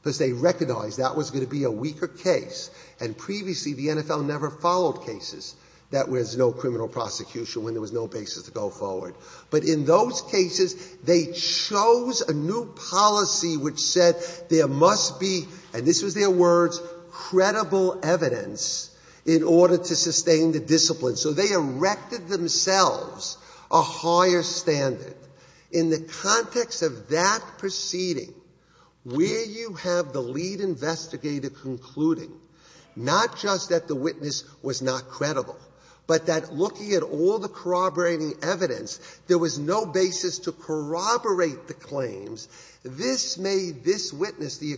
because they recognized that was going to be a weaker case, and previously the NFL never followed cases that was no criminal prosecution, when there was no basis to go forward, but in those cases, they chose a new policy which said there must be, and this was their words, credible evidence in order to sustain the discipline. So they erected themselves a higher standard. In the context of that proceeding, where you have the lead investigator concluding not just that the witness was not credible, but that looking at all the corroborating evidence, there was no basis to corroborate the claims, this made this witness, the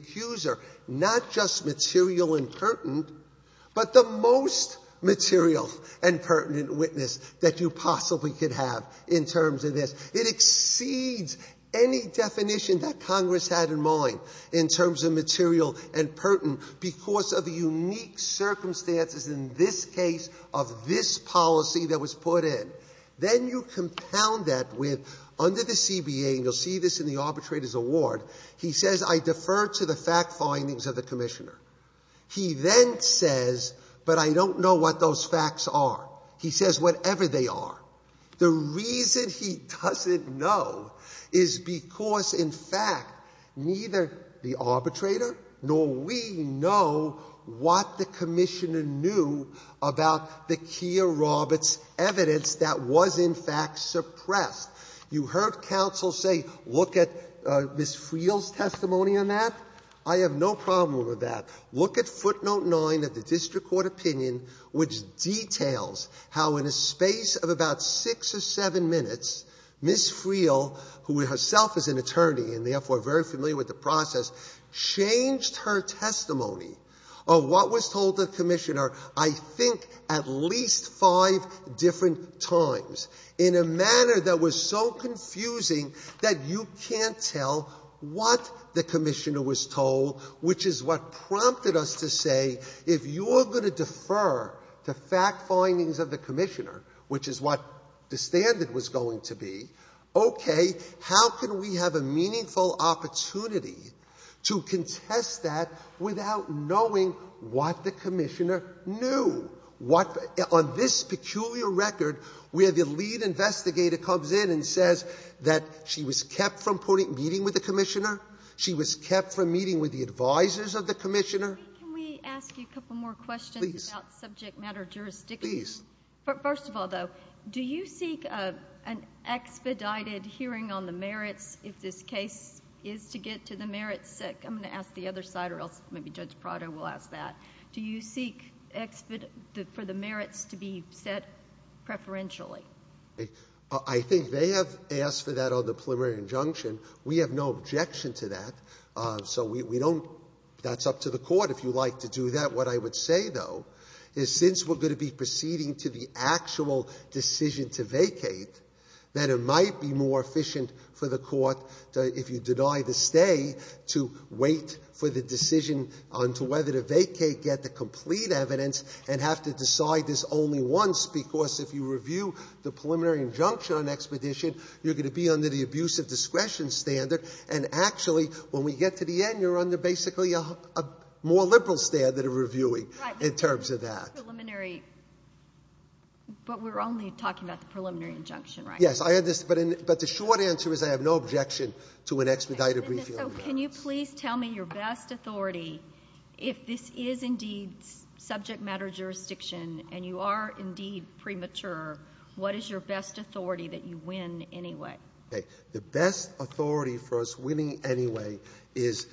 most material and pertinent witness that you possibly could have in terms of this. It exceeds any definition that Congress had in mind in terms of material and pertinent because of the unique circumstances in this case of this policy that was put in. Then you compound that with, under the CBA, and you'll see this in the arbitrator's reward, he says, I defer to the fact findings of the commissioner. He then says, but I don't know what those facts are. He says, whatever they are. The reason he doesn't know is because, in fact, neither the arbitrator nor we know what the commissioner knew about the Keir Roberts evidence that was in fact suppressed. You heard counsel say, look at Ms. Friel's testimony on that. I have no problem with that. Look at footnote 9 of the district court opinion, which details how, in a space of about six or seven minutes, Ms. Friel, who herself is an attorney and therefore very familiar with the process, changed her testimony of what was told to the commissioner, I think, at least five different times in a manner that was so confusing that you can't tell what the commissioner was told, which is what prompted us to say, if you are going to defer to fact findings of the commissioner, which is what the standard was going to be, okay, how can we have a meaningful opportunity to contest that without knowing what the commissioner knew? What, on this peculiar record, where the lead investigator comes in and says that she was kept from meeting with the commissioner, she was kept from meeting with the advisors of the commissioner. Can we ask you a couple more questions about subject matter jurisdiction? Please. First of all, though, do you seek an expedited hearing on the merits if this case is to get to the merits? I'm going to ask the other side or else maybe Judge Prado will ask that. Do you seek for the merits to be set preferentially? I think they have asked for that on the preliminary injunction. We have no objection to that. So we don't, that's up to the court if you like to do that. What I would say, though, is since we're going to be proceeding to the actual decision to vacate, that it might be more efficient for the court to, if you deny the stay, to wait for the decision on whether to vacate, get the complete evidence, and have to decide this only once. Because if you review the preliminary injunction on expedition, you're going to be under the abuse of discretion standard. And actually, when we get to the end, you're under basically a more liberal standard of reviewing in terms of that. But we're only talking about the preliminary injunction, right? Yes, but the short answer is I have no objection to an expedited briefing on the merits. Can you please tell me your best authority, if this is indeed subject matter jurisdiction and you are indeed premature, what is your best authority that you win anyway? The best authority for us winning anyway is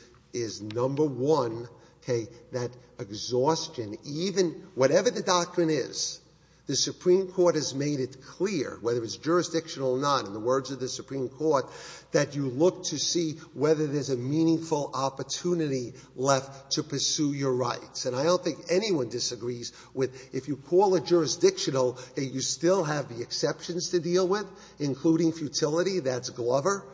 number one, that exhaustion, even whatever the doctrine is, the Supreme Court has made it clear, whether it's jurisdictional or not, in the words of the Supreme Court, that you look to see whether there's a meaningful opportunity left to pursue your rights. And I don't think anyone disagrees with, if you call it jurisdictional, you still have the exceptions to deal with, including futility. That's Glover.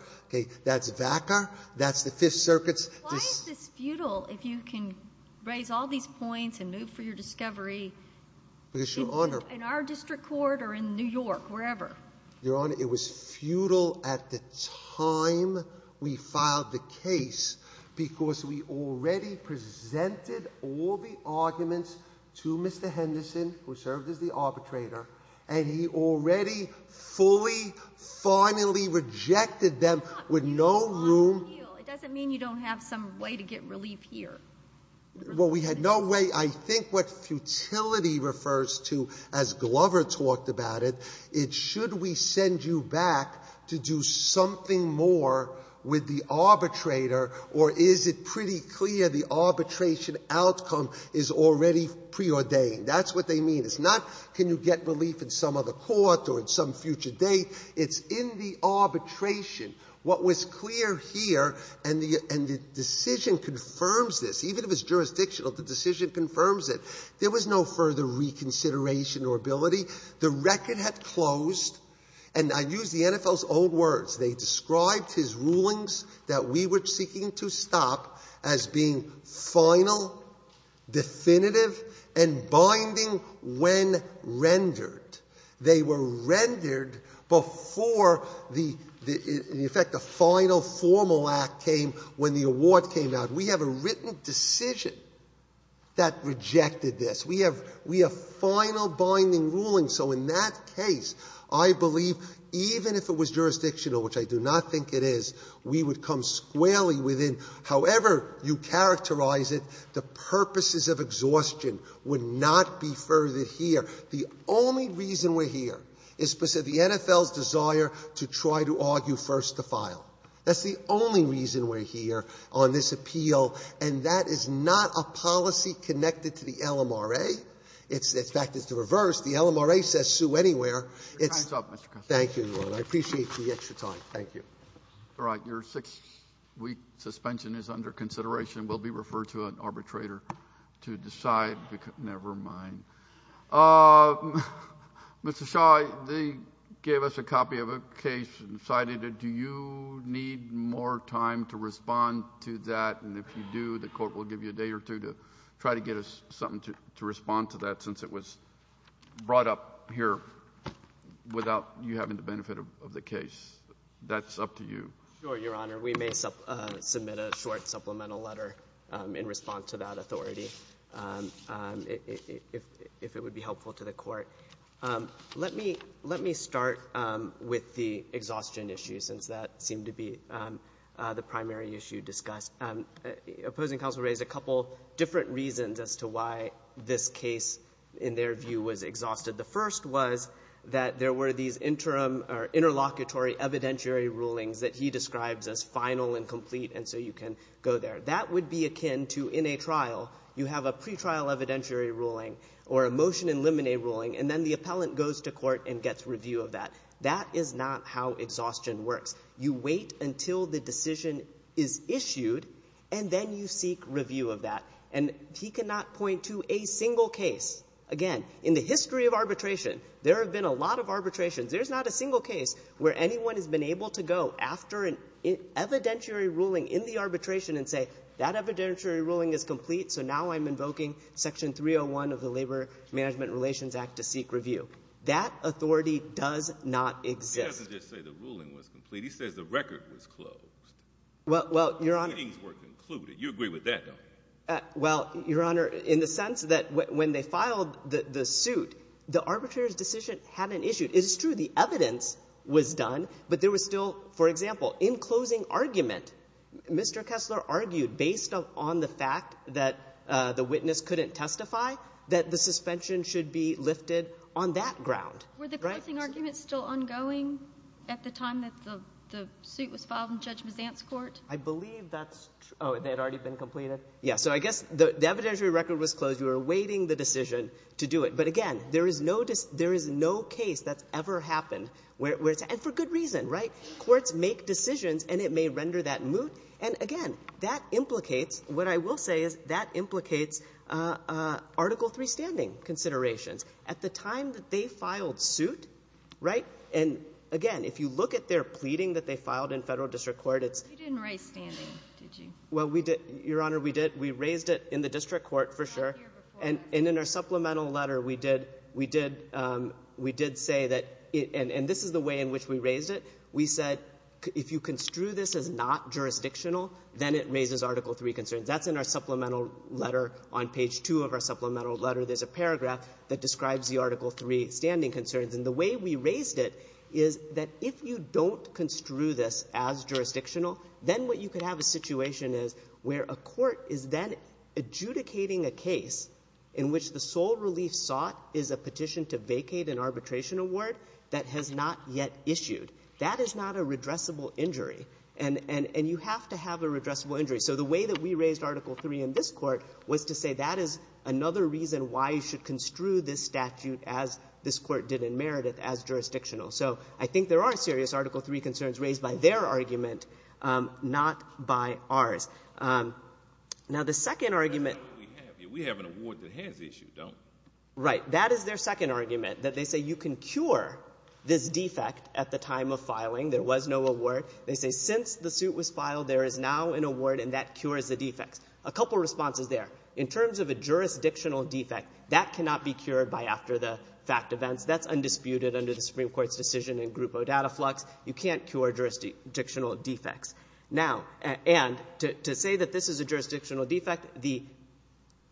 That's Vacker. That's the Fifth Circuit's. Why is this futile if you can raise all these points and move for your discovery in our district court or in New York, wherever? Your Honor, it was futile at the time we filed the case because we already presented all the arguments to Mr. Henderson, who served as the arbitrator, and he already fully, finally rejected them with no room. It doesn't mean you don't have some way to get relief here. Well, we had no way. I think what futility refers to, as Glover talked about it, it should we send you back to do something more with the arbitrator, or is it pretty clear the arbitration outcome is already preordained? That's what they mean. It's not, can you get relief in some other court or in some future date? It's in the arbitration. What was clear here, and the decision confirms this, even if it's jurisdictional, the decision confirms it, there was no further reconsideration or ability. The record had closed, and I use the NFL's old words. They described his rulings that we were seeking to stop as being final, definitive, and binding when rendered. They were rendered before the, in effect, the final formal act came when the award came out. We have a written decision that rejected this. We have final binding rulings. So in that case, I believe even if it was jurisdictional, which I do not think it is, we would come squarely within. However you characterize it, the purposes of exhaustion would not be furthered here. The only reason we're here is because of the NFL's desire to try to argue first the file. That's the only reason we're here on this appeal, and that is not a policy connected to the LMRA. It's, in fact, it's the reverse. The LMRA says sue anywhere. It's. Thank you, Your Honor. I appreciate the extra time. Thank you. All right. Your six-week suspension is under consideration, will be referred to an arbitrator to decide, never mind. Mr. Shaw, they gave us a copy of a case and cited it. Do you need more time to respond to that? And if you do, the court will give you a day or two to try to get us something to respond to that since it was brought up here without you having the benefit of the case. That's up to you. Sure, Your Honor. We may submit a short supplemental letter in response to that authority. If it would be helpful to the court. Let me start with the exhaustion issue since that seemed to be the primary issue discussed. Opposing counsel raised a couple different reasons as to why this case, in their view, was exhausted. The first was that there were these interim or interlocutory evidentiary rulings that he describes as final and complete, and so you can go there. That would be akin to in a trial, you have a pretrial evidentiary ruling or a motion in limine ruling, and then the appellant goes to court and gets review of that. That is not how exhaustion works. You wait until the decision is issued, and then you seek review of that. And he cannot point to a single case. Again, in the history of arbitration, there have been a lot of arbitrations. There's not a single case where anyone has been able to go after an evidentiary ruling in the arbitration and say, that evidentiary ruling is complete, so now I'm invoking Section 301 of the Labor Management Relations Act to seek review. That authority does not exist. He doesn't just say the ruling was complete. He says the record was closed. Well, Your Honor. The proceedings were concluded. You agree with that, though? Well, Your Honor, in the sense that when they filed the suit, the arbitrator's decision hadn't issued. It is true the evidence was done, but there was still, for example, in closing argument, Mr. Kessler argued based on the fact that the witness couldn't testify that the suspension should be lifted on that ground. Were the closing arguments still ongoing at the time that the suit was filed in Judge Mazant's court? I believe that's true. Oh, they had already been completed? Yes. So I guess the evidentiary record was closed. You were awaiting the decision to do it. But again, there is no case that's ever happened, and for good reason. Courts make decisions, and it may render that moot. And again, that implicates, what I will say is that implicates Article III standing considerations. At the time that they filed suit, and again, if you look at their pleading that they filed in federal district court, it's – You didn't raise standing, did you? Well, Your Honor, we did. We raised it in the district court for sure. And in our supplemental letter, we did say that – and this is the way in which we raised it – we said if you construe this as not jurisdictional, then it raises Article III concerns. That's in our supplemental letter. On page two of our supplemental letter, there's a paragraph that describes the Article III standing concerns. And the way we raised it is that if you don't construe this as jurisdictional, then what you could have a situation is where a court is then adjudicating a case in which the sole relief sought is a petition to vacate an arbitration award that has not yet issued. That is not a redressable injury. And you have to have a redressable injury. So the way that we raised Article III in this court was to say that is another reason why you should construe this statute as this court did in Meredith, as jurisdictional. So I think there are serious Article III concerns raised by their argument, not by ours. Now, the second argument – That's not what we have here. We have an award that has issued, don't we? Right. That is their second argument, that they say you can cure this defect at the time of filing. There was no award. They say since the suit was filed, there is now an award, and that cures the defects. A couple of responses there. In terms of a jurisdictional defect, that cannot be cured by after the fact events. That's undisputed under the Supreme Court's decision in Grupo Dataflux. You can't cure jurisdictional defects. Now, and to say that this is a jurisdictional defect, the –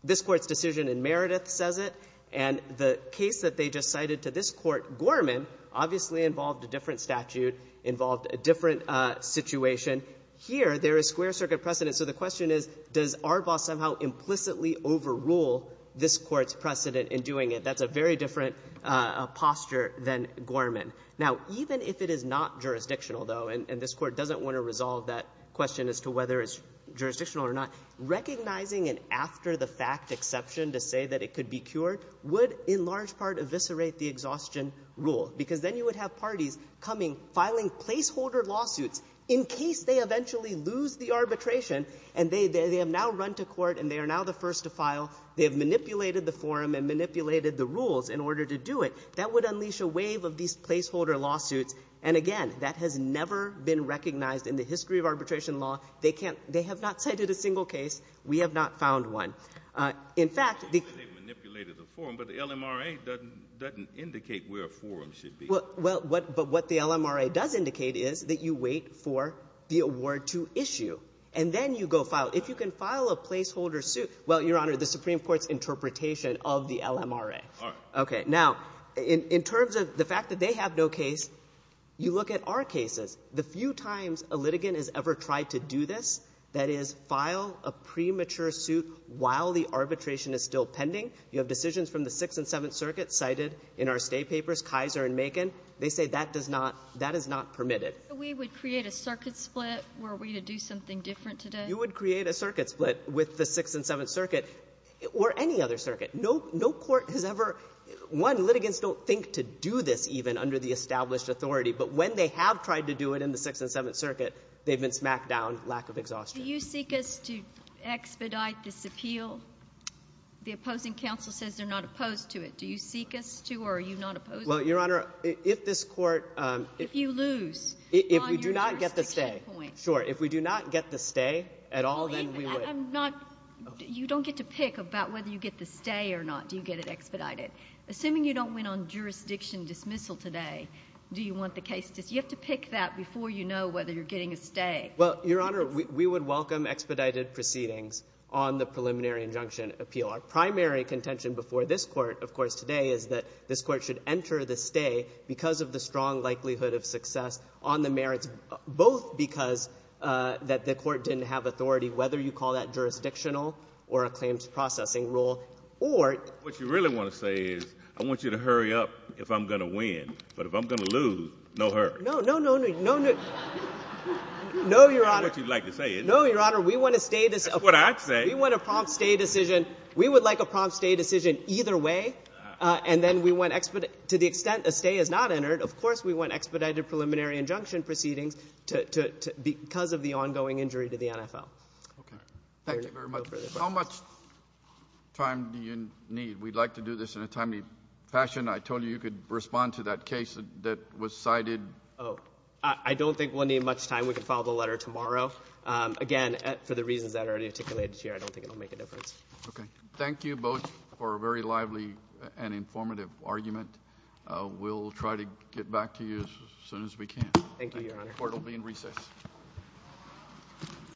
this Court's decision in Meredith says it, and the case that they just cited to this Court, Gorman, obviously involved a different statute, involved a different situation. Here, there is square circuit precedent. So the question is, does Arbaugh somehow implicitly overrule this Court's precedent in doing it? That's a very different posture than Gorman. Now, even if it is not jurisdictional, though, and this Court doesn't want to resolve that question as to whether it's jurisdictional or not, recognizing an after-the-fact exception to say that it could be cured would, in large part, eviscerate the exhaustion rule, because then you would have parties coming, filing placeholder lawsuits in case they eventually lose the arbitration, and they have now run to court, and they are now the first to file. They have manipulated the forum and manipulated the rules in order to do it. That would unleash a wave of these placeholder lawsuits. And again, that has never been recognized in the history of arbitration law. They can't — they have not cited a single case. We have not found one. In fact, the — They manipulated the forum, but the LMRA doesn't indicate where a forum should be. Well, but what the LMRA does indicate is that you wait for the award to issue, and then you go file. If you can file a placeholder suit — well, Your Honor, the Supreme Court's interpretation of the LMRA. All right. Okay. Now, in terms of the fact that they have no case, you look at our cases. The few times a litigant has ever tried to do this, that is, file a premature suit while the arbitration is still pending. You have decisions from the Sixth and Seventh Circuits cited in our State papers, Kaiser and Macon. They say that does not — that is not permitted. But we would create a circuit split were we to do something different today? You would create a circuit split with the Sixth and Seventh Circuit or any other circuit. No court has ever — one, litigants don't think to do this even under the established authority. But when they have tried to do it in the Sixth and Seventh Circuit, they've been smacked down, lack of exhaustion. Do you seek us to expedite this appeal? The opposing counsel says they're not opposed to it. Do you seek us to or are you not opposed to it? Well, Your Honor, if this court — If you lose on your restriction point. If we do not get the stay. Sure. If we do not get the stay at all, then we would. I'm not — you don't get to pick about whether you get the stay or not. Do you get it expedited? Assuming you don't win on jurisdiction dismissal today, do you want the case — you have to pick that before you know whether you're getting a stay. Well, Your Honor, we would welcome expedited proceedings on the preliminary injunction appeal. Our primary contention before this Court, of course, today, is that this Court should enter the stay because of the strong likelihood of success on the merits, both because that the Court didn't have authority, whether you call that jurisdictional or a claims processing rule, or — What you really want to say is I want you to hurry up if I'm going to win. But if I'm going to lose, no hurry. No, no, no. No, no. No, Your Honor. That's what you'd like to say, isn't it? No, Your Honor. We want a stay — That's what I'd say. We want a prompt stay decision. We would like a prompt stay decision either way. And then we want — to the extent a stay is not entered, of course we want expedited preliminary injunction proceedings because of the ongoing injury to the NFL. Okay. Thank you very much. How much time do you need? We'd like to do this in a timely fashion. I told you you could respond to that case that was cited. Oh, I don't think we'll need much time. We can file the letter tomorrow. Again, for the reasons that are already articulated here, I don't think it will make a difference. Okay. Thank you both for a very lively and informative argument. We'll try to get back to you as soon as we can. Thank you, Your Honor. The court will be in recess.